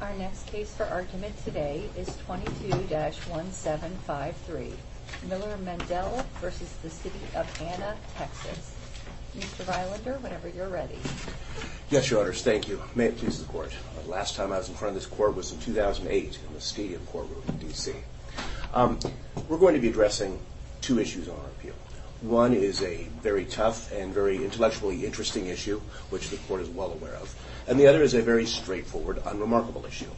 Our next case for argument today is 22-1753, Miller Mendel v. City of Anna, Texas. Mr. Vylander, whenever you're ready. Yes, Your Honors, thank you. May it please the Court. The last time I was in front of this Court was in 2008 in the Stadium courtroom in D.C. We're going to be addressing two issues on our appeal. One is a very tough and very intellectually interesting issue, which the Court is well aware of. And the other is a very straightforward, unremarkable issue.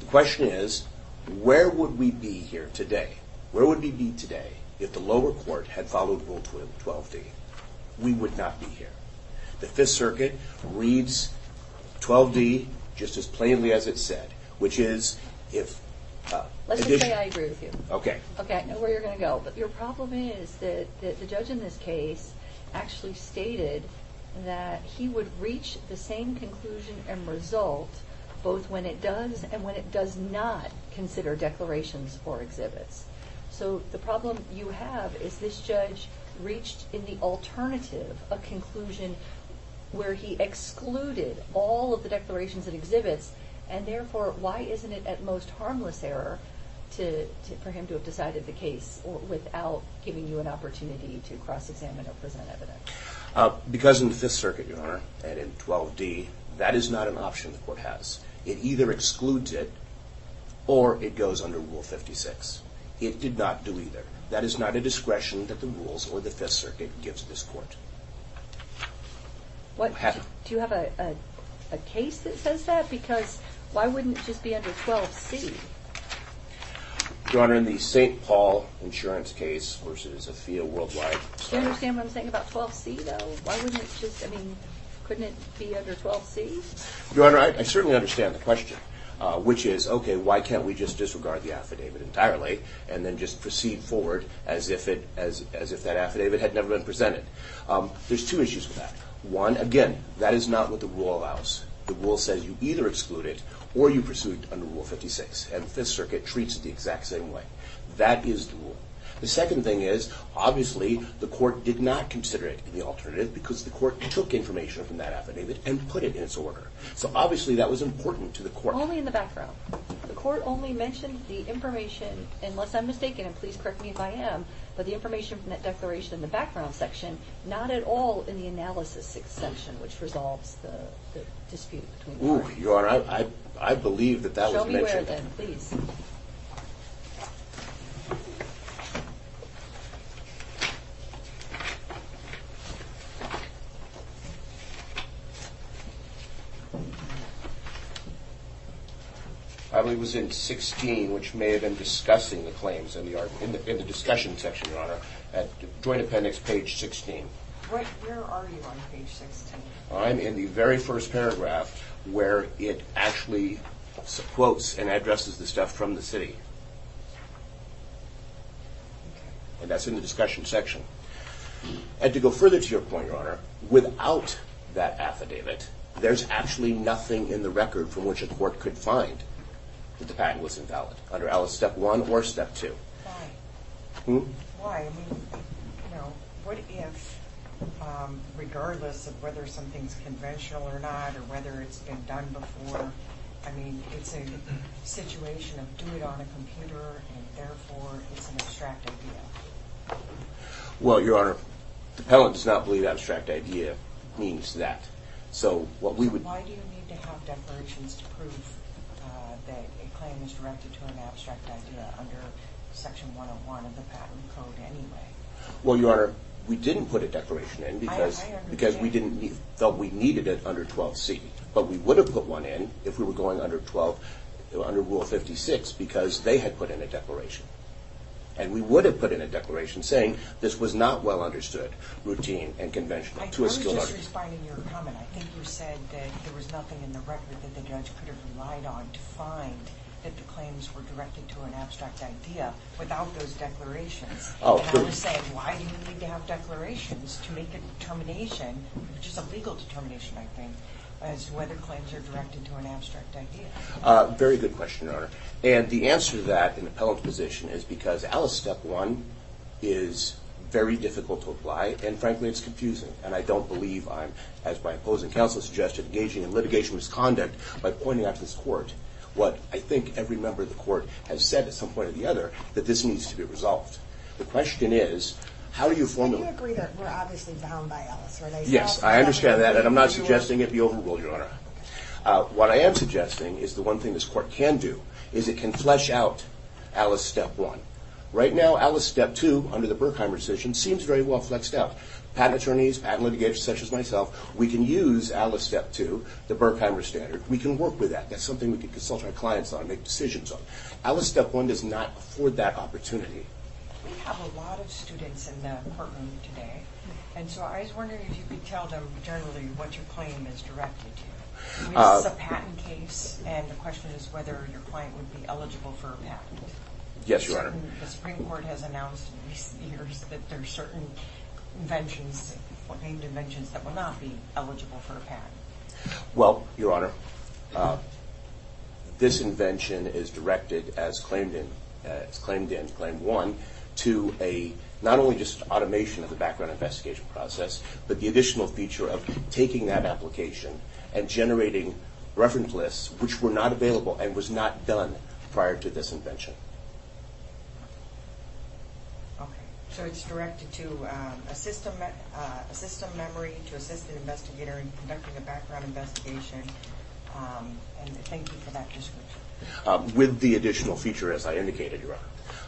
The question is, where would we be here today? Where would we be today if the lower court had followed Rule 12d? We would not be here. The Fifth Circuit reads 12d just as plainly as it said, which is if... Let's just say I agree with you. Okay. Okay, I know where you're going to go. Your problem is that the judge in this case actually stated that he would reach the same conclusion and result both when it does and when it does not consider declarations or exhibits. So the problem you have is this judge reached in the alternative a conclusion where he excluded all of the declarations and exhibits, and therefore, why isn't it at most harmless error for him to have decided the case without giving you an opportunity to cross-examine or present evidence? Because in the Fifth Circuit, Your Honor, and in 12d, that is not an option the Court has. It either excludes it or it goes under Rule 56. It did not do either. That is not a discretion that the rules or the Fifth Circuit gives this Court. What? Do you have a case that says that? Because why wouldn't it just be under 12c? Your Honor, in the St. Paul insurance case versus a fee of worldwide... Do you understand what I'm saying about 12c, though? Why wouldn't it just, I mean, couldn't it be under 12c? Your Honor, I certainly understand the question, which is, okay, why can't we just disregard the affidavit entirely and then just proceed forward as if that affidavit had never been presented? There's two issues with that. One, again, that is not what the rule allows. The rule says you either exclude it or you pursue it under Rule 56, and the Fifth Circuit treats it the exact same way. That is the rule. The second thing is, obviously, the Court did not consider it in the alternative because the Court took information from that affidavit and put it in its order. So, obviously, that was important to the Court. Only in the background. The Court only mentioned the information, unless I'm mistaken, and please correct me if I am, but the information from that declaration in the background section, not at all in the analysis section, which resolves the dispute between the parties. Your Honor, I believe that that was mentioned. Show me where, then, please. I believe it was in 16, which may have been discussing the claims in the discussion section, Your Honor, at Joint Appendix, page 16. Where are you on page 16? I'm in the very first paragraph where it actually quotes and addresses the stuff from the city. And that's in the discussion section. And to go further to your point, Your Honor, without that affidavit, there's actually nothing in the record from which a court could find that the patent was invalid, under Alice, Step 1 or Step 2. Why? Hmm? Why? I mean, you know, what if, regardless of whether something's conventional or not or whether it's been done before, I mean, it's a situation of do it on a computer and, therefore, it's an abstract idea? Well, Your Honor, Appellant does not believe abstract idea means that. Why do you need to have declarations to prove that a claim is directed to an abstract idea under Section 101 of the Patent Code anyway? Well, Your Honor, we didn't put a declaration in because we felt we needed it under 12C. But we would have put one in if we were going under Rule 56 because they had put in a declaration. And we would have put in a declaration saying, this was not well understood, routine, and conventional to a skilled artist. Just responding to your comment, I think you said that there was nothing in the record that the judge could have relied on to find that the claims were directed to an abstract idea without those declarations. Oh, of course. And Alice said, why do you need to have declarations to make a determination, which is a legal determination, I think, as to whether claims are directed to an abstract idea? Very good question, Your Honor. And the answer to that in Appellant's position is because Alice, Step 1, is very difficult to apply. And, frankly, it's confusing. And I don't believe I'm, as my opposing counsel suggested, engaging in litigation misconduct by pointing out to this court what I think every member of the court has said at some point or the other, that this needs to be resolved. The question is, how do you formulate it? But you agree that we're obviously bound by Alice, right? Yes, I understand that. And I'm not suggesting it be overruled, Your Honor. What I am suggesting is the one thing this court can do is it can flesh out Alice, Step 1. Right now, Alice, Step 2, under the Berkheimer decision, seems very well flexed out. Patent attorneys, patent litigators such as myself, we can use Alice, Step 2, the Berkheimer standard. We can work with that. That's something we can consult our clients on, make decisions on. Alice, Step 1 does not afford that opportunity. We have a lot of students in the courtroom today. And so I was wondering if you could tell them generally what your claim is directed to. This is a patent case, and the question is whether your client would be eligible for a patent. Yes, Your Honor. The Supreme Court has announced in recent years that there are certain inventions, named inventions that will not be eligible for a patent. Well, Your Honor, this invention is directed as claimed in Claim 1 to a not only just automation of the background investigation process, but the additional feature of taking that application and generating reference lists which were not available and was not done prior to this invention. Okay. So it's directed to assist a memory, to assist an investigator in conducting a background investigation. And thank you for that description. With the additional feature, as I indicated, Your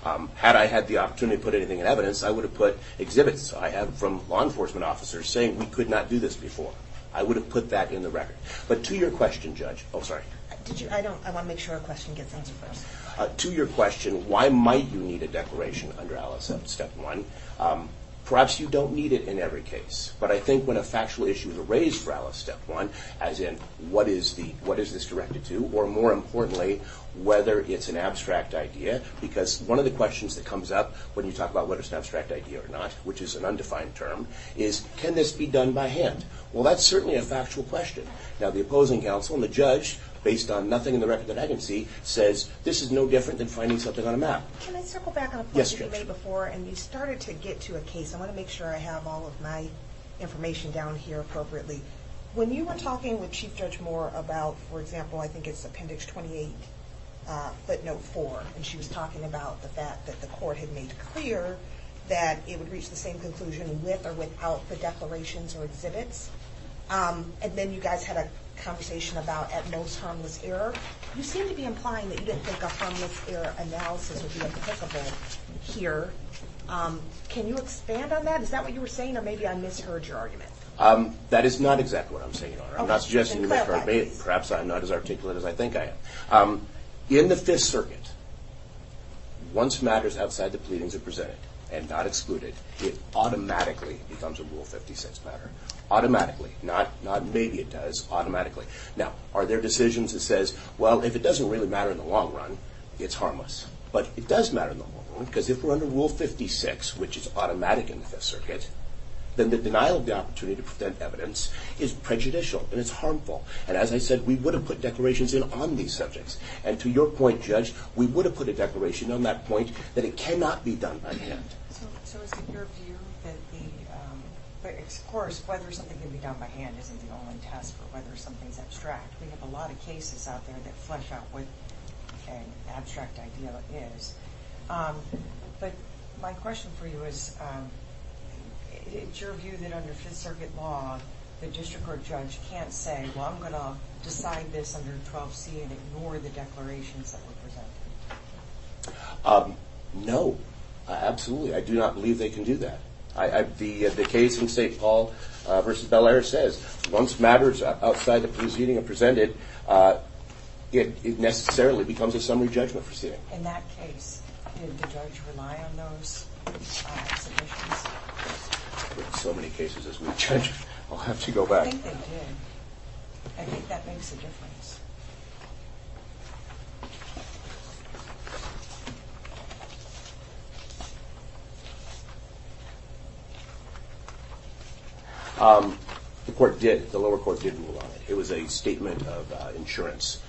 Honor. Had I had the opportunity to put anything in evidence, I would have put exhibits I have from law enforcement officers saying we could not do this before. I would have put that in the record. But to your question, Judge. Oh, sorry. I want to make sure a question gets answered first. To your question, why might you need a declaration under Alice Step 1, perhaps you don't need it in every case. But I think when a factual issue is raised for Alice Step 1, as in what is this directed to, or more importantly, whether it's an abstract idea, because one of the questions that comes up when you talk about whether it's an abstract idea or not, which is an undefined term, is can this be done by hand? Well, that's certainly a factual question. Now, the opposing counsel and the judge, based on nothing in the record that I can see, says this is no different than finding something on a map. Can I circle back on a point you made before? Yes, Judge. And you started to get to a case. I want to make sure I have all of my information down here appropriately. When you were talking with Chief Judge Moore about, for example, I think it's Appendix 28, footnote 4, and she was talking about the fact that the court had made clear that it would reach the same conclusion with or without the declarations or exhibits. And then you guys had a conversation about, at most, harmless error. You seem to be implying that you didn't think a harmless error analysis would be applicable here. Can you expand on that? Is that what you were saying, or maybe I misheard your argument? That is not exactly what I'm saying, Your Honor. I'm not suggesting you misheard me. Perhaps I'm not as articulate as I think I am. In the Fifth Circuit, once matters outside the pleadings are presented and not excluded, it automatically becomes a Rule 56 matter. Automatically, not maybe it does, automatically. Now, are there decisions that says, well, if it doesn't really matter in the long run, it's harmless. But it does matter in the long run because if we're under Rule 56, which is automatic in the Fifth Circuit, then the denial of the opportunity to present evidence is prejudicial and it's harmful. And as I said, we would have put declarations in on these subjects. And to your point, Judge, we would have put a declaration on that point that it cannot be done by hand. So is it your view that the—of course, whether something can be done by hand isn't the only test for whether something's abstract. We have a lot of cases out there that flesh out what an abstract idea is. But my question for you is, is it your view that under Fifth Circuit law, the district or judge can't say, well, I'm going to decide this under 12C and ignore the declarations that were presented? No, absolutely. I do not believe they can do that. The case in St. Paul v. Bellaire says once matters outside the proceeding are presented, it necessarily becomes a summary judgment proceeding. In that case, did the judge rely on those submissions? There are so many cases, Judge, I'll have to go back. I think they did. I think that makes a difference. The court did. The lower court didn't rely on it. It was a statement of insurance.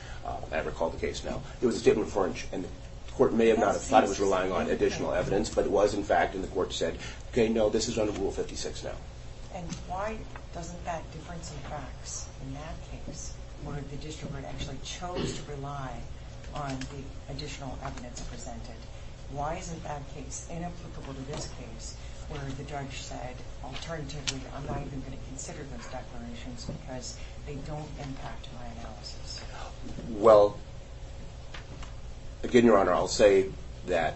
I recall the case now. It was a statement for—and the court may have not thought it was relying on additional evidence, but it was, in fact, and the court said, okay, no, this is under Rule 56 now. And why doesn't that difference in facts in that case, where the district court actually chose to rely on the additional evidence presented, why isn't that case inapplicable to this case where the judge said, alternatively, I'm not even going to consider those declarations because they don't impact my analysis? Well, again, Your Honor, I'll say that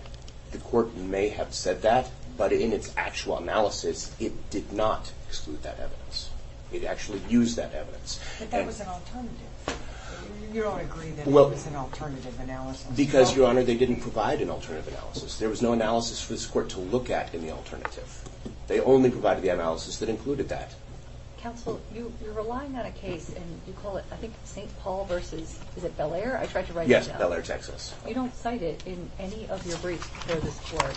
the court may have said that, but in its actual analysis, it did not exclude that evidence. It actually used that evidence. But that was an alternative. You don't agree that it was an alternative analysis? Because, Your Honor, they didn't provide an alternative analysis. There was no analysis for this court to look at in the alternative. They only provided the analysis that included that. Counsel, you're relying on a case, and you call it, I think, St. Paul versus, is it Bel-Air? I tried to write that down. Yes, Bel-Air, Texas. You don't cite it in any of your briefs before this court.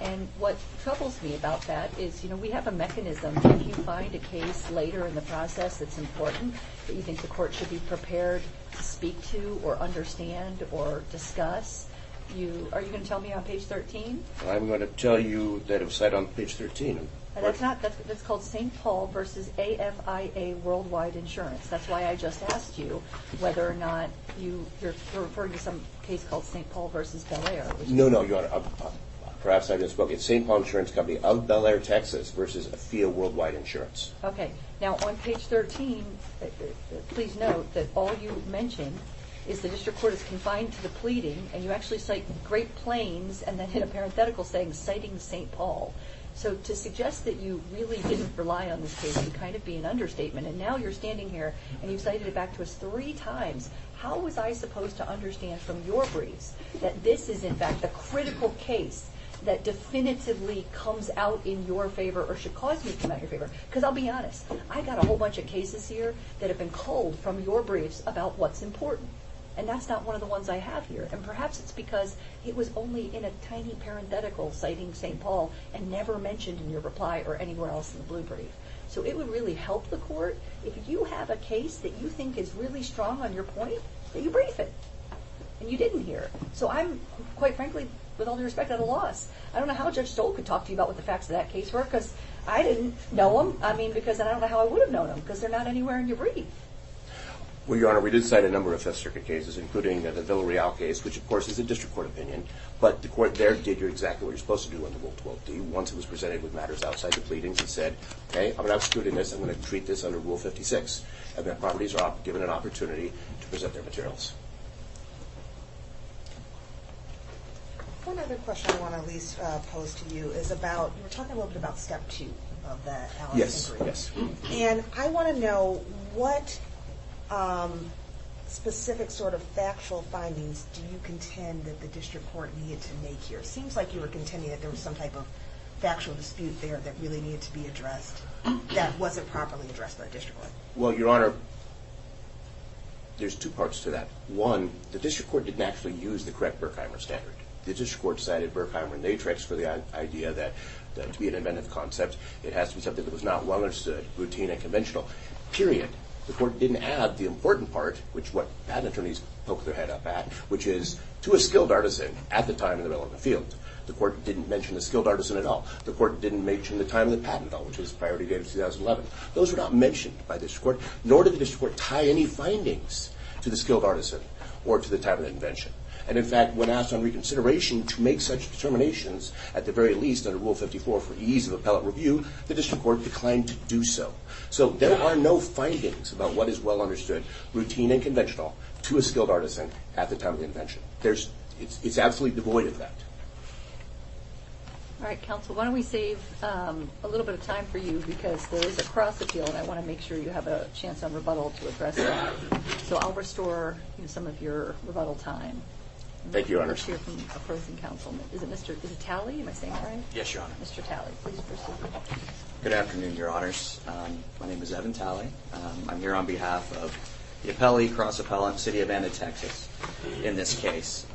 And what troubles me about that is, you know, we have a mechanism. If you find a case later in the process that's important, that you think the court should be prepared to speak to or understand or discuss, are you going to tell me on page 13? I'm going to tell you that it was cited on page 13. That's called St. Paul versus AFIA Worldwide Insurance. That's why I just asked you whether or not you're referring to some case called St. Paul versus Bel-Air. No, no, Your Honor. Perhaps I just spoke at St. Paul Insurance Company of Bel-Air, Texas versus AFIA Worldwide Insurance. Okay. Now, on page 13, please note that all you mention is the district court is confined to the pleading, and you actually cite Great Plains and then hit a parenthetical saying citing St. Paul. So to suggest that you really didn't rely on this case would kind of be an understatement. And now you're standing here and you've cited it back to us three times. How was I supposed to understand from your briefs that this is, in fact, the critical case that definitively comes out in your favor or should cause me to come out in your favor? Because I'll be honest. I've got a whole bunch of cases here that have been culled from your briefs about what's important, and that's not one of the ones I have here. And perhaps it's because it was only in a tiny parenthetical citing St. Paul and never mentioned in your reply or anywhere else in the blue brief. So it would really help the court if you have a case that you think is really strong on your point, that you brief it and you didn't hear it. So I'm, quite frankly, with all due respect, at a loss. I don't know how Judge Stoll could talk to you about what the facts of that case were because I didn't know them, I mean, because I don't know how I would have known them because they're not anywhere in your brief. Well, Your Honor, we did cite a number of Fifth Circuit cases, including the Villarreal case, which, of course, is a district court opinion, but the court there did exactly what you're supposed to do under Rule 12d. Once it was presented with matters outside the pleadings, it said, okay, I'm going to exclude this, I'm going to treat this under Rule 56, and that properties are given an opportunity to present their materials. One other question I want to at least pose to you is about, you were talking a little bit about step two of the allocation agreement. Yes, yes. And I want to know what specific sort of factual findings do you contend that the district court needed to make here? Because it seems like you were contending that there was some type of factual dispute there that really needed to be addressed that wasn't properly addressed by the district court. Well, Your Honor, there's two parts to that. One, the district court didn't actually use the correct Berkheimer standard. The district court cited Berkheimer and Natrix for the idea that to be an inventive concept, it has to be something that was not well understood, routine and conventional, period. The court didn't add the important part, which is what patent attorneys poke their head up at, which is to a skilled artisan at the time in the relevant field. The court didn't mention the skilled artisan at all. The court didn't mention the time of the patent at all, which was the priority date of 2011. Those were not mentioned by the district court, nor did the district court tie any findings to the skilled artisan or to the time of the invention. And in fact, when asked on reconsideration to make such determinations, at the very least under Rule 54 for ease of appellate review, the district court declined to do so. So there are no findings about what is well understood, routine and conventional, to a skilled artisan at the time of the invention. It's absolutely devoid of that. All right, counsel. Why don't we save a little bit of time for you because there is a cross-appeal, and I want to make sure you have a chance on rebuttal to address that. So I'll restore some of your rebuttal time. Thank you, Your Honors. Is it Mr. Talley? Am I saying that right? Yes, Your Honor. Mr. Talley, please proceed. Good afternoon, Your Honors. My name is Evan Talley. I'm here on behalf of the appellee, cross-appellant, City of Anna, Texas, in this case.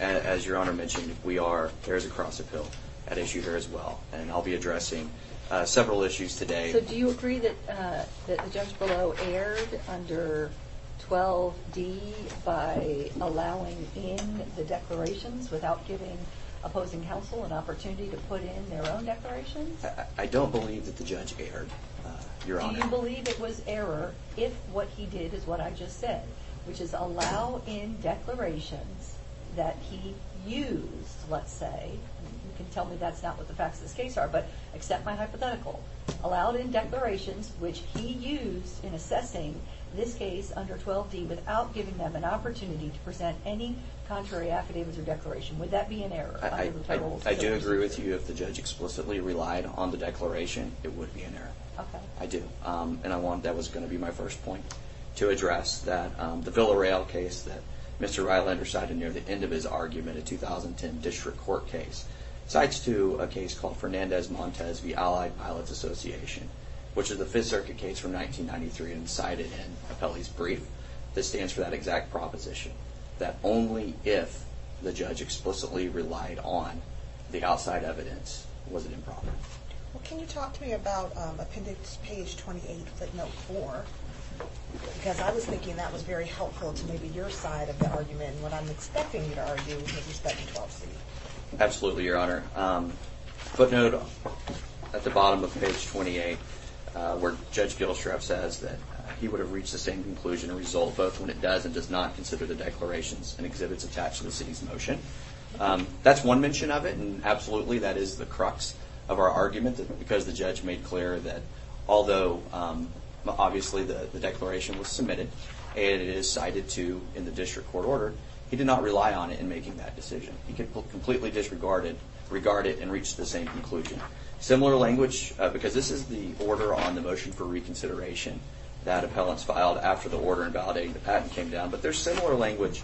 As Your Honor mentioned, we are, there is a cross-appeal at issue here as well, and I'll be addressing several issues today. So do you agree that the judge below erred under 12D by allowing in the declarations without giving opposing counsel an opportunity to put in their own declarations? I don't believe that the judge erred, Your Honor. So you believe it was error if what he did is what I just said, which is allow in declarations that he used, let's say. You can tell me that's not what the facts of this case are, but accept my hypothetical. Allow in declarations which he used in assessing this case under 12D without giving them an opportunity to present any contrary affidavits or declaration. Would that be an error? I do agree with you. If the judge explicitly relied on the declaration, it would be an error. Okay. I do, and I want, that was going to be my first point, to address that the Villarreal case that Mr. Rylander cited near the end of his argument, a 2010 district court case, cites to a case called Fernandez-Montes v. Allied Pilots Association, which is a Fifth Circuit case from 1993 and cited in Apelli's brief. This stands for that exact proposition, that only if the judge explicitly relied on the outside evidence was it improper. Well, can you talk to me about appendix page 28, footnote 4? Because I was thinking that was very helpful to maybe your side of the argument, and what I'm expecting you to argue with respect to 12C. Absolutely, Your Honor. Footnote at the bottom of page 28, where Judge Gillestraff says that he would have reached the same conclusion and result both when it does and does not consider the declarations and exhibits attached to the city's motion. That's one mention of it, and absolutely that is the crux of our argument, because the judge made clear that although obviously the declaration was submitted and it is cited in the district court order, he did not rely on it in making that decision. He completely disregarded it and reached the same conclusion. Similar language, because this is the order on the motion for reconsideration that appellants filed after the order in validating the patent came down, but there's similar language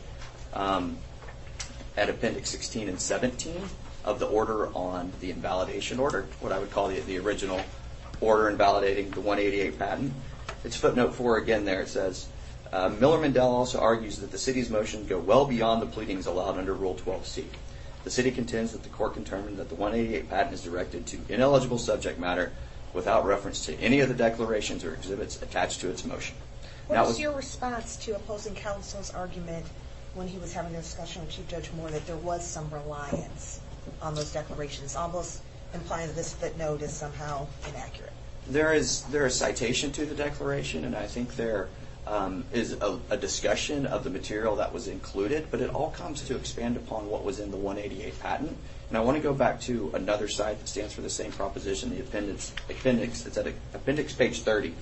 at appendix 16 and 17 of the order on the invalidation order, what I would call the original order in validating the 188 patent. It's footnote 4 again there. It says, Miller-Mendel also argues that the city's motions go well beyond the pleadings allowed under Rule 12C. The city contends that the court can determine that the 188 patent is directed to ineligible subject matter without reference to any of the declarations or exhibits attached to its motion. What was your response to opposing counsel's argument when he was having a discussion with Chief Judge Moore that there was some reliance on those declarations, almost implying that this footnote is somehow inaccurate? There is citation to the declaration, and I think there is a discussion of the material that was included, but it all comes to expand upon what was in the 188 patent. And I want to go back to another site that stands for the same proposition, the appendix. It's at appendix page 30.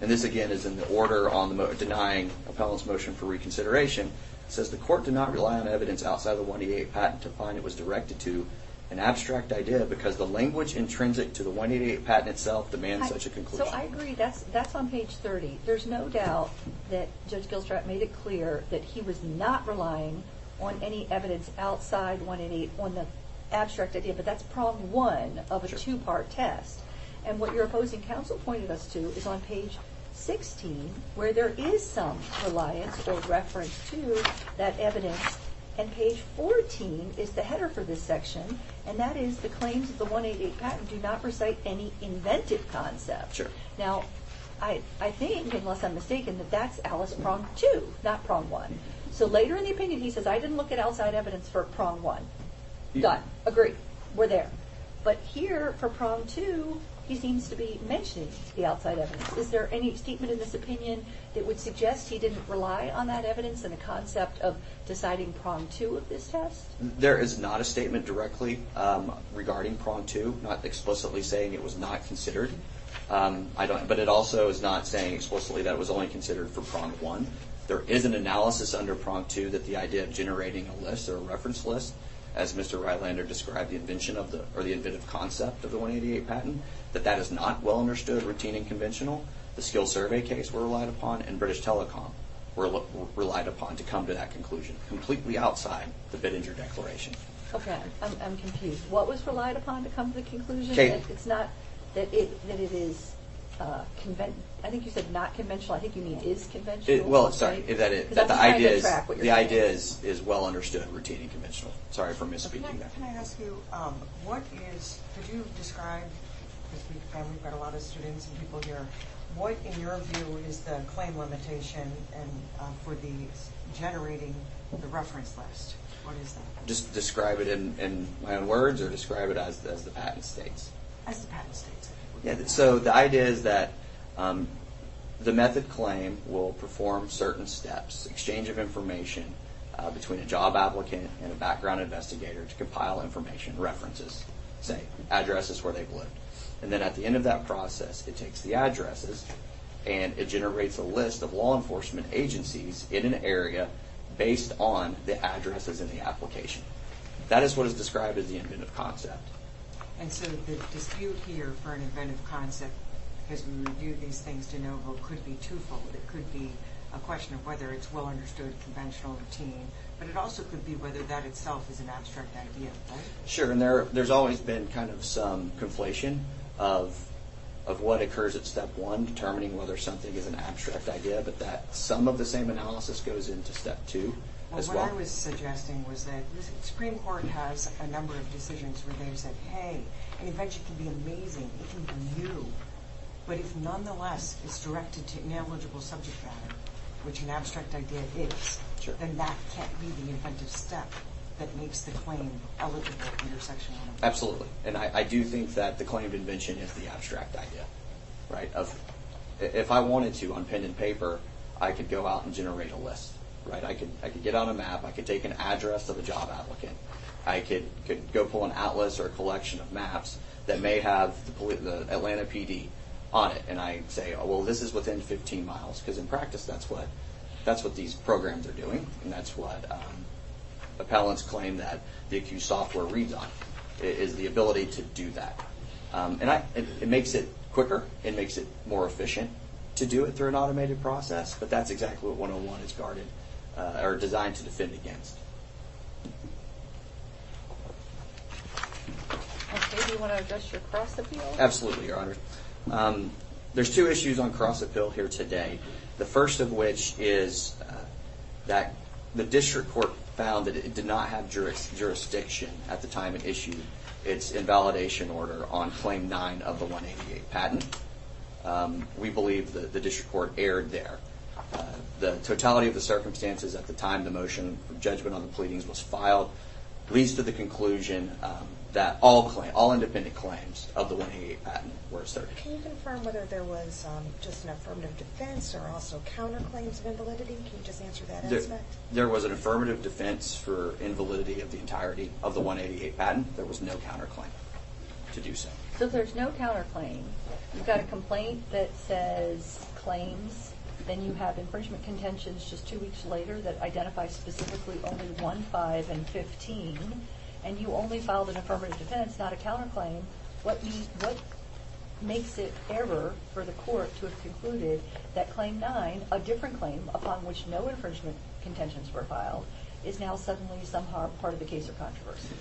And this, again, is in the order on denying appellant's motion for reconsideration. It says the court did not rely on evidence outside of the 188 patent to find it was directed to an abstract idea because the language intrinsic to the 188 patent itself demands such a conclusion. So I agree. That's on page 30. There's no doubt that Judge Gilstrap made it clear that he was not relying on any evidence outside 188 on the abstract idea, but that's prong one of a two-part test. And what your opposing counsel pointed us to is on page 16, where there is some reliance or reference to that evidence, and page 14 is the header for this section, and that is the claims of the 188 patent do not recite any invented concept. Now, I think, unless I'm mistaken, that that's Alice prong two, not prong one. So later in the opinion, he says, I didn't look at outside evidence for prong one. Done. Agree. We're there. But here, for prong two, he seems to be mentioning the outside evidence. Is there any statement in this opinion that would suggest he didn't rely on that evidence and the concept of deciding prong two of this test? There is not a statement directly regarding prong two, not explicitly saying it was not considered. But it also is not saying explicitly that it was only considered for prong one. There is an analysis under prong two that the idea of generating a list or a reference list, as Mr. Reitlander described the invention of the or the inventive concept of the 188 patent, that that is not well understood, routine, and conventional. The skill survey case were relied upon, and British Telecom were relied upon to come to that conclusion, completely outside the Bittinger Declaration. Okay. I'm confused. What was relied upon to come to the conclusion? It's not that it is conventional. I think you said not conventional. I think you mean is conventional. Well, sorry, that the idea is well understood, routine, and conventional. Sorry for misspeaking there. Can I ask you, what is, could you describe, because we've got a lot of students and people here, what, in your view, is the claim limitation for generating the reference list? What is that? Just describe it in my own words or describe it as the patent states? As the patent states. So the idea is that the method claim will perform certain steps, exchange of information between a job applicant and a background investigator to compile information, references, say, addresses where they've lived. And then at the end of that process, it takes the addresses and it generates a list of law enforcement agencies in an area based on the addresses in the application. That is what is described as the inventive concept. And so the dispute here for an inventive concept, because we review these things to know what could be twofold, it could be a question of whether it's well understood, conventional, routine, but it also could be whether that itself is an abstract idea. Sure, and there's always been kind of some conflation of what occurs at step one, determining whether something is an abstract idea, but that some of the same analysis goes into step two as well. What I was suggesting was that the Supreme Court has a number of decisions where they've said, hey, an invention can be amazing, it can be new, but if nonetheless it's directed to an ineligible subject matter, which an abstract idea is, then that can't be the inventive step that makes the claim eligible for intersectionality. Absolutely, and I do think that the claim to invention is the abstract idea. If I wanted to, on pen and paper, I could go out and generate a list. I could get on a map, I could take an address of a job applicant, I could go pull an atlas or a collection of maps that may have the Atlanta PD on it, and I say, well, this is within 15 miles, because in practice that's what these programs are doing, and that's what appellants claim that the ACUE software reads on, is the ability to do that. It makes it quicker, it makes it more efficient to do it through an automated process, but that's exactly what 101 is designed to defend against. Okay, do you want to address your cross-appeal? Absolutely, Your Honor. There's two issues on cross-appeal here today, the first of which is that the district court found that it did not have jurisdiction at the time it issued its invalidation order on Claim 9 of the 188 patent. We believe that the district court erred there. The totality of the circumstances at the time the motion for judgment on the pleadings was filed leads to the conclusion that all independent claims of the 188 patent were asserted. Can you confirm whether there was just an affirmative defense or also counterclaims of invalidity? Can you just answer that aspect? There was an affirmative defense for invalidity of the entirety of the 188 patent. There was no counterclaim to do so. So if there's no counterclaim, you've got a complaint that says claims, then you have infringement contentions just two weeks later that identify specifically only 1, 5, and 15, and you only filed an affirmative defense, not a counterclaim, what makes it error for the court to have concluded that Claim 9, a different claim upon which no infringement contentions were filed, is now suddenly somehow part of the case or controversy?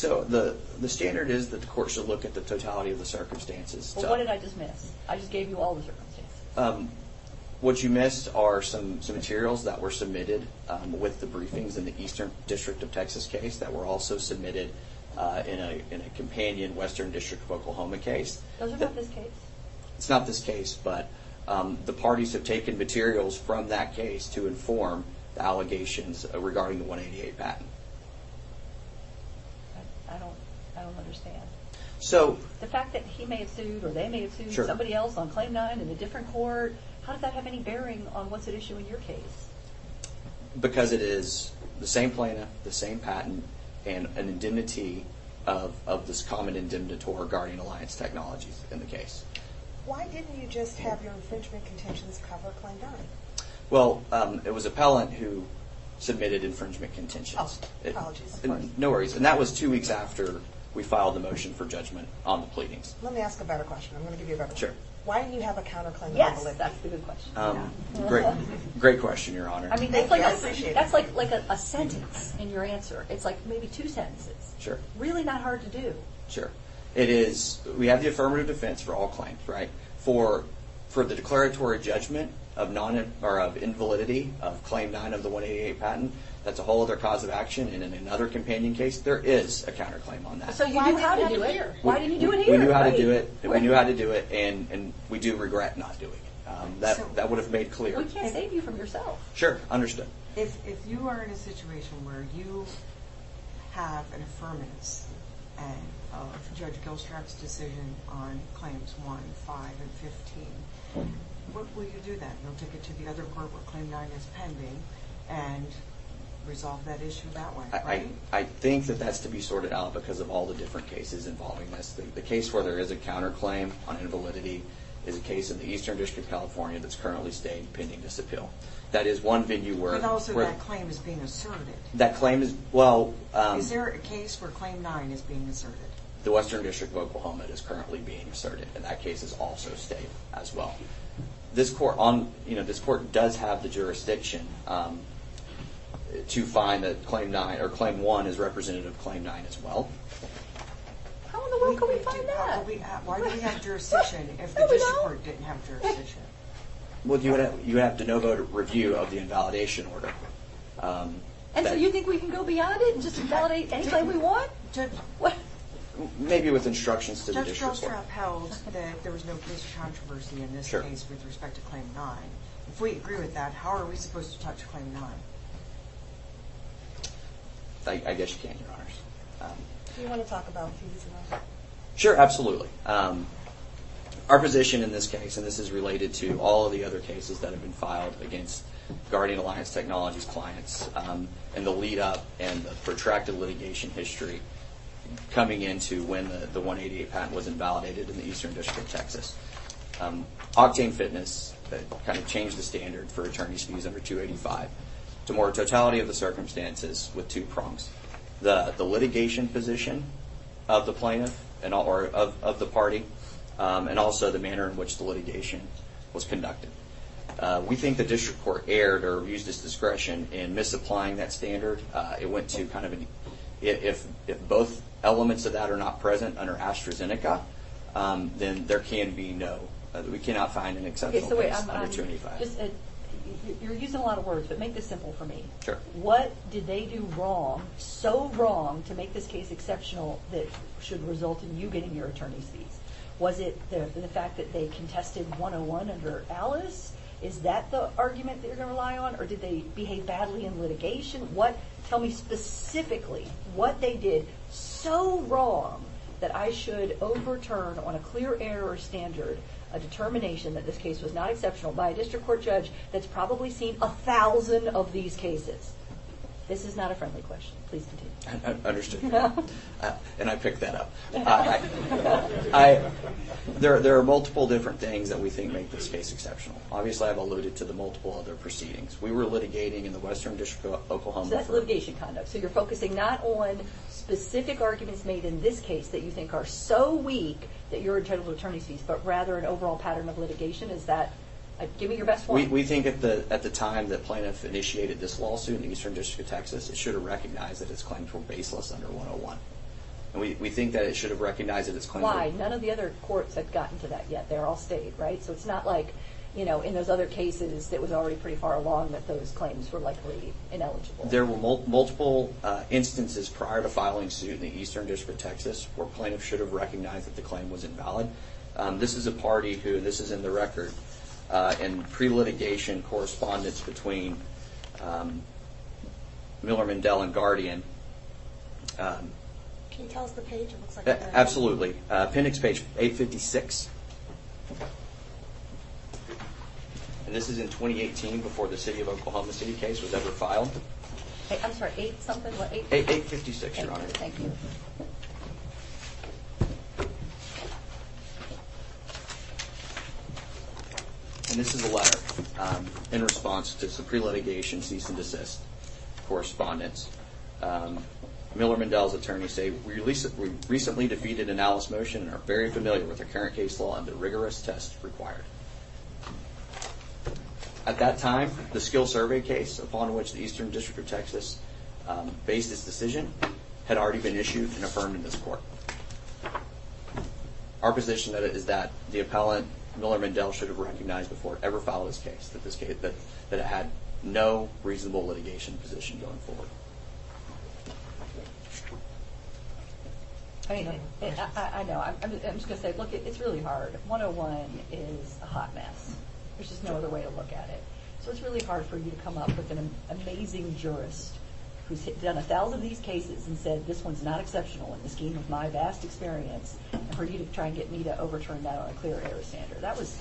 The standard is that the court should look at the totality of the circumstances. What did I just miss? I just gave you all the circumstances. What you missed are some materials that were submitted with the briefings in the Eastern District of Texas case that were also submitted in a companion Western District of Oklahoma case. Those are not this case? It's not this case, but the parties have taken materials from that case to inform the allegations regarding the 188 patent. I don't understand. The fact that he may have sued or they may have sued somebody else on Claim 9 in a different court, how does that have any bearing on what's at issue in your case? Because it is the same plaintiff, the same patent, and an indemnity of this common indemnitator, Guardian Alliance Technologies, in the case. Why didn't you just have your infringement contentions cover Claim 9? Well, it was appellant who submitted infringement contentions. Apologies. No worries. And that was two weeks after we filed the motion for judgment on the pleadings. Let me ask a better question. I'm going to give you a better one. Sure. Why do you have a counterclaim? Yes. Great question, Your Honor. That's like a sentence in your answer. It's like maybe two sentences. Sure. Really not hard to do. Sure. We have the affirmative defense for all claims, right? For the declaratory judgment of invalidity of Claim 9 of the 188 patent, that's a whole other cause of action. And in another companion case, there is a counterclaim on that. So you knew how to do it? Why didn't you do it here? We knew how to do it, and we do regret not doing it. That would have made clear. We can't save you from yourself. Sure. Understood. If you are in a situation where you have an affirmance of Judge Gilstrap's decision on Claims 1, 5, and 15, what will you do then? You'll take it to the other court where Claim 9 is pending and resolve that issue that way, right? I think that that's to be sorted out because of all the different cases involving this. The case where there is a counterclaim on invalidity is a case in the Eastern District of California that's currently staying pending disappeal. But also that claim is being asserted. Is there a case where Claim 9 is being asserted? The Western District of Oklahoma is currently being asserted, and that case is also staying as well. This court does have the jurisdiction to find that Claim 1 is representative of Claim 9 as well. How in the world can we find that? Why do we have jurisdiction if the district court didn't have jurisdiction? Well, you have to know about a review of the invalidation order. And so you think we can go beyond it and just invalidate any claim we want? Maybe with instructions to the district court. Judge Gilstrap held that there was no police controversy in this case with respect to Claim 9. If we agree with that, how are we supposed to touch Claim 9? I guess you can, Your Honors. Do you want to talk about fees as well? Sure, absolutely. Our position in this case, and this is related to all of the other cases that have been filed against Guardian Alliance Technologies clients, and the lead up and the protracted litigation history coming into when the 188 patent was invalidated in the Eastern District of Texas. Octane Fitness kind of changed the standard for attorney's fees under 285 to more totality of the circumstances with two prongs. The litigation position of the plaintiff or of the party and also the manner in which the litigation was conducted. We think the district court erred or used its discretion in misapplying that standard. If both elements of that are not present under AstraZeneca, then there can be no, we cannot find an exceptional case under 285. You're using a lot of words, but make this simple for me. Sure. What did they do wrong, so wrong, to make this case exceptional that should result in you getting your attorney's fees? Was it the fact that they contested 101 under Alice? Is that the argument that you're going to rely on? Or did they behave badly in litigation? Tell me specifically what they did so wrong that I should overturn on a clear error standard a determination that this case was not exceptional by a district court judge that's probably seen a thousand of these cases? This is not a friendly question. Please continue. Understood. And I picked that up. There are multiple different things that we think make this case exceptional. Obviously, I've alluded to the multiple other proceedings. We were litigating in the Western District of Oklahoma. So that's litigation conduct. So you're focusing not on specific arguments made in this case that you think are so weak that you're entitled to attorney's fees, but rather an overall pattern of litigation. Is that, give me your best one. We think at the time that plaintiff initiated this lawsuit in the Eastern District of Texas, it should have recognized that its claims were baseless under 101. And we think that it should have recognized that its claims were- Why? None of the other courts have gotten to that yet. They're all state, right? So it's not like in those other cases that was already pretty far along that those claims were likely ineligible. There were multiple instances prior to filing suit in the Eastern District of Texas where plaintiff should have recognized that the claim was invalid. This is a party who, this is in the record, in pre-litigation correspondence between Miller-Mindell and Guardian. Can you tell us the page? Absolutely. Appendix page 856. And this is in 2018 before the City of Oklahoma City case was ever filed. I'm sorry, eight something? 856, Your Honor. Thank you. And this is a letter in response to some pre-litigation cease and desist correspondence. Miller-Mindell's attorneys say, we recently defeated an Alice motion and are very familiar with the current case law and the rigorous tests required. At that time, the skill survey case upon which the Eastern District of Texas based its decision had already been issued and affirmed in this court. Our position is that the appellant Miller-Mindell should have recognized before it ever filed this case that it had no reasonable litigation position going forward. I know. I'm just going to say, look, it's really hard. 101 is a hot mess. There's just no other way to look at it. So it's really hard for you to come up with an amazing jurist who's done a thousand of these cases and said this one's not exceptional in the scheme of my vast experience and for you to try and get me to overturn that on a clear air standard. That was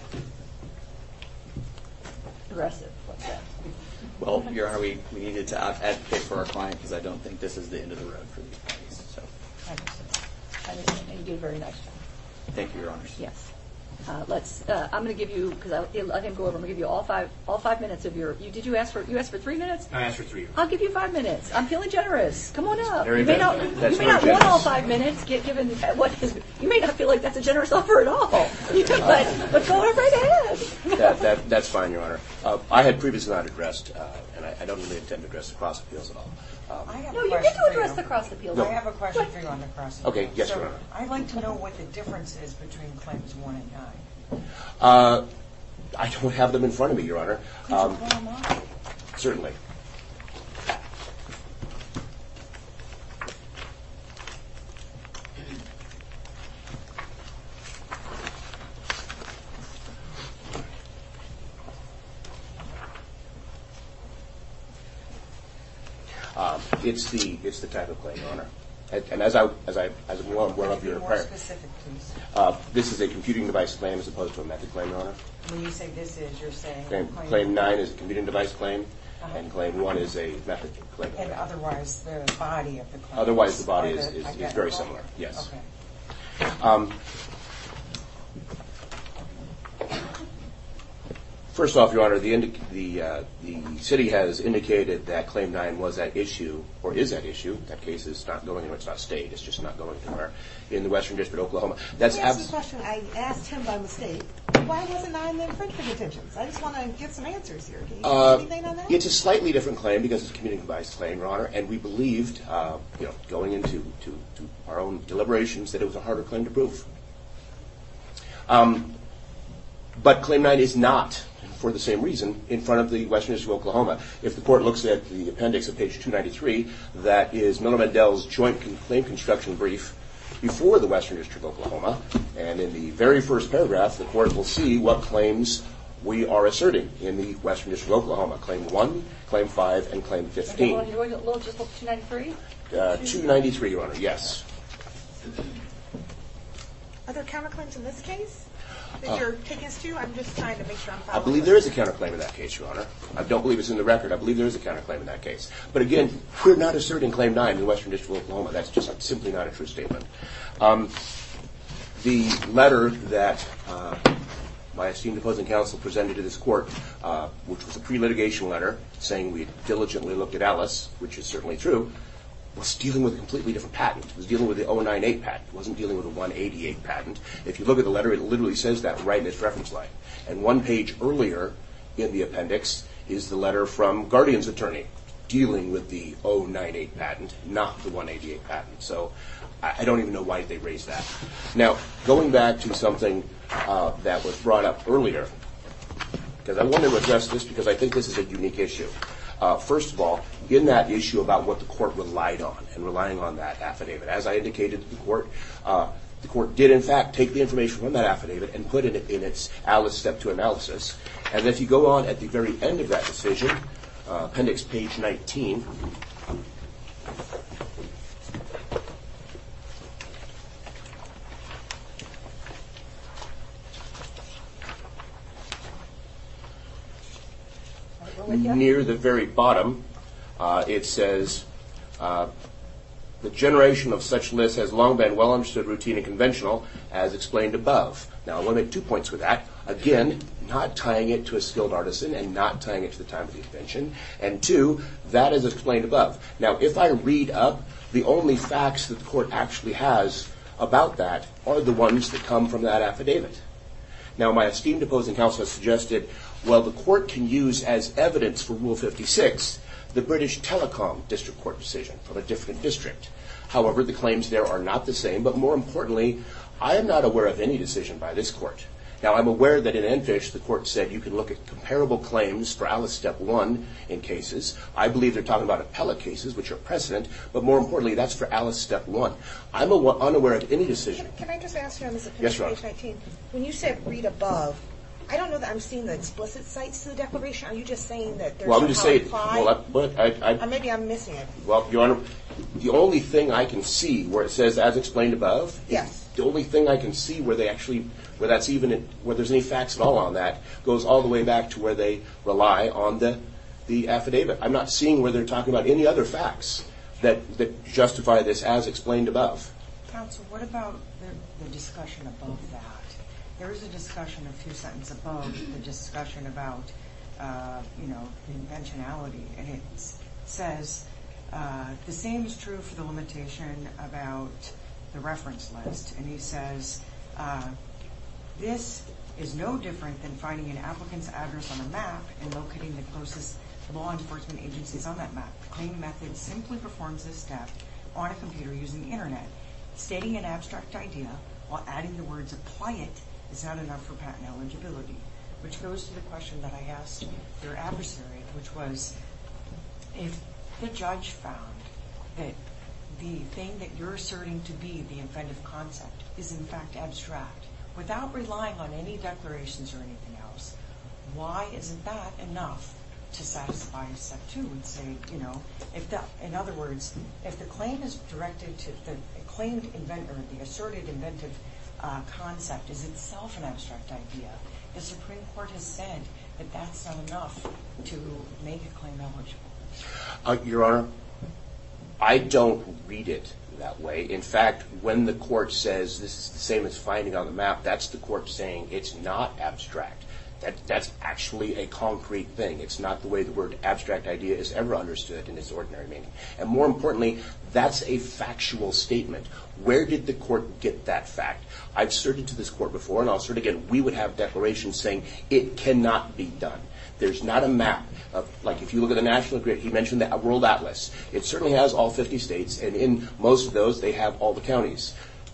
aggressive, what's that? Well, Your Honor, we needed to advocate for our client because I don't think this is the end of the road for these attorneys. I understand. And you did a very nice job. Thank you, Your Honor. Yes. Let's, I'm going to give you, because I didn't go over, I'm going to give you all five minutes of your, did you ask for three minutes? I asked for three minutes. I'll give you five minutes. I'm feeling generous. Come on up. You may not want all five minutes. You may not feel like that's a generous offer at all. But go right ahead. That's fine, Your Honor. I had previously not addressed, and I don't really intend to address the cross appeals at all. No, you get to address the cross appeals. I have a question for you on the cross appeals. Okay, yes, Your Honor. I'd like to know what the difference is between claims one and nine. I don't have them in front of me, Your Honor. Could you put them on? Certainly. Thank you. It's the type of claim, Your Honor. And as one of your prior. Could you be more specific, please? This is a computing device claim as opposed to a method claim, Your Honor. When you say this is, you're saying? Claim nine is a computing device claim, and claim one is a method claim. And otherwise, the body of the claim is identical? Otherwise, the body is very similar, yes. Okay. First off, Your Honor, the city has indicated that claim nine was at issue, or is at issue. That case is not going anywhere. It's not a state. It's just not going anywhere in the western district of Oklahoma. Let me ask you a question. I asked him by mistake. Why wasn't nine then free for detentions? I just want to get some answers here. Do you have anything on that? It's a slightly different claim because it's a computing device claim, Your Honor. And we believed, going into our own deliberations, that it was a harder claim to prove. But claim nine is not, for the same reason, in front of the western district of Oklahoma. If the court looks at the appendix at page 293, that is Milam and Dell's joint claim construction brief before the western district of Oklahoma. And in the very first paragraph, the court will see what claims we are asserting in the western district of Oklahoma. Claim one, claim five, and claim 15. 293, Your Honor. Yes. I believe there is a counterclaim in that case, Your Honor. I don't believe it's in the record. I believe there is a counterclaim in that case. But again, we're not asserting claim nine in the western district of Oklahoma. That's just simply not a true statement. The letter that my esteemed opposing counsel presented to this court, which was a pre-litigation letter, saying we diligently looked at Ellis, which is certainly true, was dealing with a completely different patent. It was dealing with the 098 patent. It wasn't dealing with the 188 patent. If you look at the letter, it literally says that right in its reference line. And one page earlier in the appendix is the letter from Guardian's attorney dealing with the 098 patent, not the 188 patent. So I don't even know why they raised that. Now, going back to something that was brought up earlier, because I wanted to address this because I think this is a unique issue. First of all, in that issue about what the court relied on and relying on that affidavit, as I indicated to the court, the court did in fact take the information from that affidavit and put it in its Ellis Step 2 analysis. And if you go on at the very end of that decision, appendix page 19, near the very bottom, it says, the generation of such lists has long been well understood, routine, and conventional, as explained above. Now, I want to make two points with that. Again, not tying it to a skilled artisan and not tying it to the time of the invention. And two, that is explained above. Now, if I read up, the only facts that the court actually has about that are the ones that come from that affidavit. Now, my esteemed opposing counsel has suggested, well, the court can use as evidence for Rule 56 the British Telecom District Court decision from a different district. However, the claims there are not the same. But more importantly, I am not aware of any decision by this court. Now, I'm aware that in Enfish, the court said you can look at comparable claims for Ellis Step 1 in cases. I believe they're talking about appellate cases, which are precedent. But more importantly, that's for Ellis Step 1. I'm unaware of any decision. Counsel, can I just ask you on this? Yes, Your Honor. When you said read above, I don't know that I'm seeing the explicit sites in the declaration. Are you just saying that there's a top five? Maybe I'm missing it. Well, Your Honor, the only thing I can see where it says as explained above, the only thing I can see where there's any facts at all on that goes all the way back to where they rely on the affidavit. I'm not seeing where they're talking about any other facts that justify this as explained above. Counsel, what about the discussion above that? There is a discussion a few sentences above the discussion about, you know, the inventionality. And it says the same is true for the limitation about the reference list. And he says, this is no different than finding an applicant's address on a map and locating the closest law enforcement agencies on that map. The claim method simply performs this step on a computer using the Internet. Stating an abstract idea while adding the words apply it is not enough for patent eligibility, which goes to the question that I asked your adversary, which was if the judge found that the thing that you're asserting to be the inventive concept is in fact abstract, without relying on any declarations or anything else, why isn't that enough to satisfy Step 2 and say, you know, in other words, if the claim is directed to the claimed inventor, the asserted inventive concept is itself an abstract idea, the Supreme Court has said that that's not enough to make a claim eligible. Your Honor, I don't read it that way. In fact, when the court says this is the same as finding on the map, that's the court saying it's not abstract. That's actually a concrete thing. It's not the way the word abstract idea is ever understood in its ordinary meaning. And more importantly, that's a factual statement. Where did the court get that fact? I've asserted to this court before, and I'll assert again, we would have declarations saying it cannot be done. There's not a map. Like if you look at the National Grid, he mentioned the World Atlas. It certainly has all 50 states, and in most of those they have all the counties.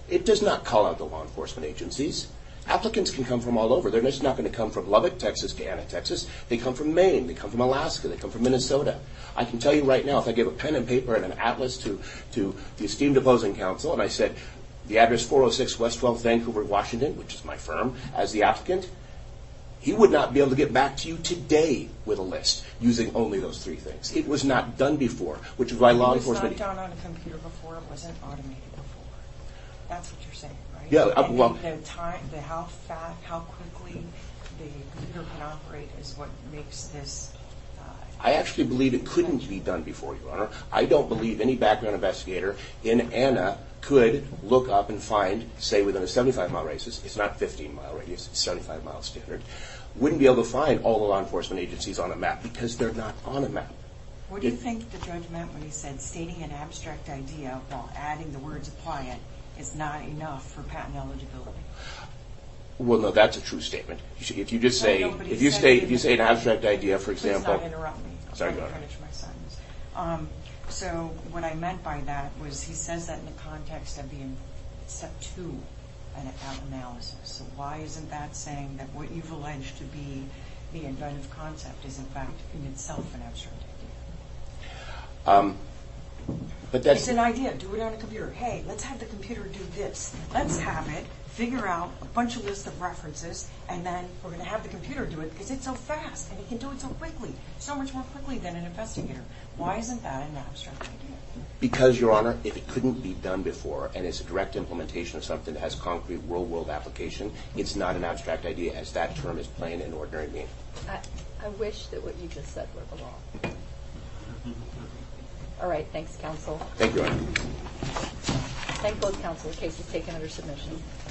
It does not call out the law enforcement agencies. Applicants can come from all over. They're just not going to come from Lubbock, Texas, to Anna, Texas. They come from Maine. They come from Alaska. They come from Minnesota. I can tell you right now, if I gave a pen and paper and an atlas to the esteemed opposing counsel, and I said the address 406 West 12 Vancouver, Washington, which is my firm, as the applicant, he would not be able to get back to you today with a list using only those three things. It was not done before, which is why law enforcement... It was not done on a computer before. It wasn't automated before. That's what you're saying, right? How quickly the computer can operate is what makes this... I actually believe it couldn't be done before, Your Honor. I don't believe any background investigator in Anna could look up and find, say, within a 75-mile radius, it's not a 15-mile radius, it's a 75-mile standard, wouldn't be able to find all the law enforcement agencies on a map because they're not on a map. What do you think the judge meant when he said stating an abstract idea while adding the words apply it is not enough for patent eligibility? Well, no, that's a true statement. If you just say... If you say an abstract idea, for example... Please don't interrupt me. Sorry, Your Honor. So what I meant by that was he says that in the context of being set to an analysis. So why isn't that saying that what you've alleged to be the inventive concept is, in fact, in itself an abstract idea? It's an idea. Do it on a computer. Hey, let's have the computer do this. Let's have it figure out a bunch of lists of references and then we're going to have the computer do it because it's so fast and it can do it so quickly, so much more quickly than an investigator. Why isn't that an abstract idea? Because, Your Honor, if it couldn't be done before and it's a direct implementation of something that has concrete real-world application, it's not an abstract idea as that term is plain and ordinary. All right, thanks, counsel. Thank you, Your Honor. Thank both counsel. The case is taken under submission.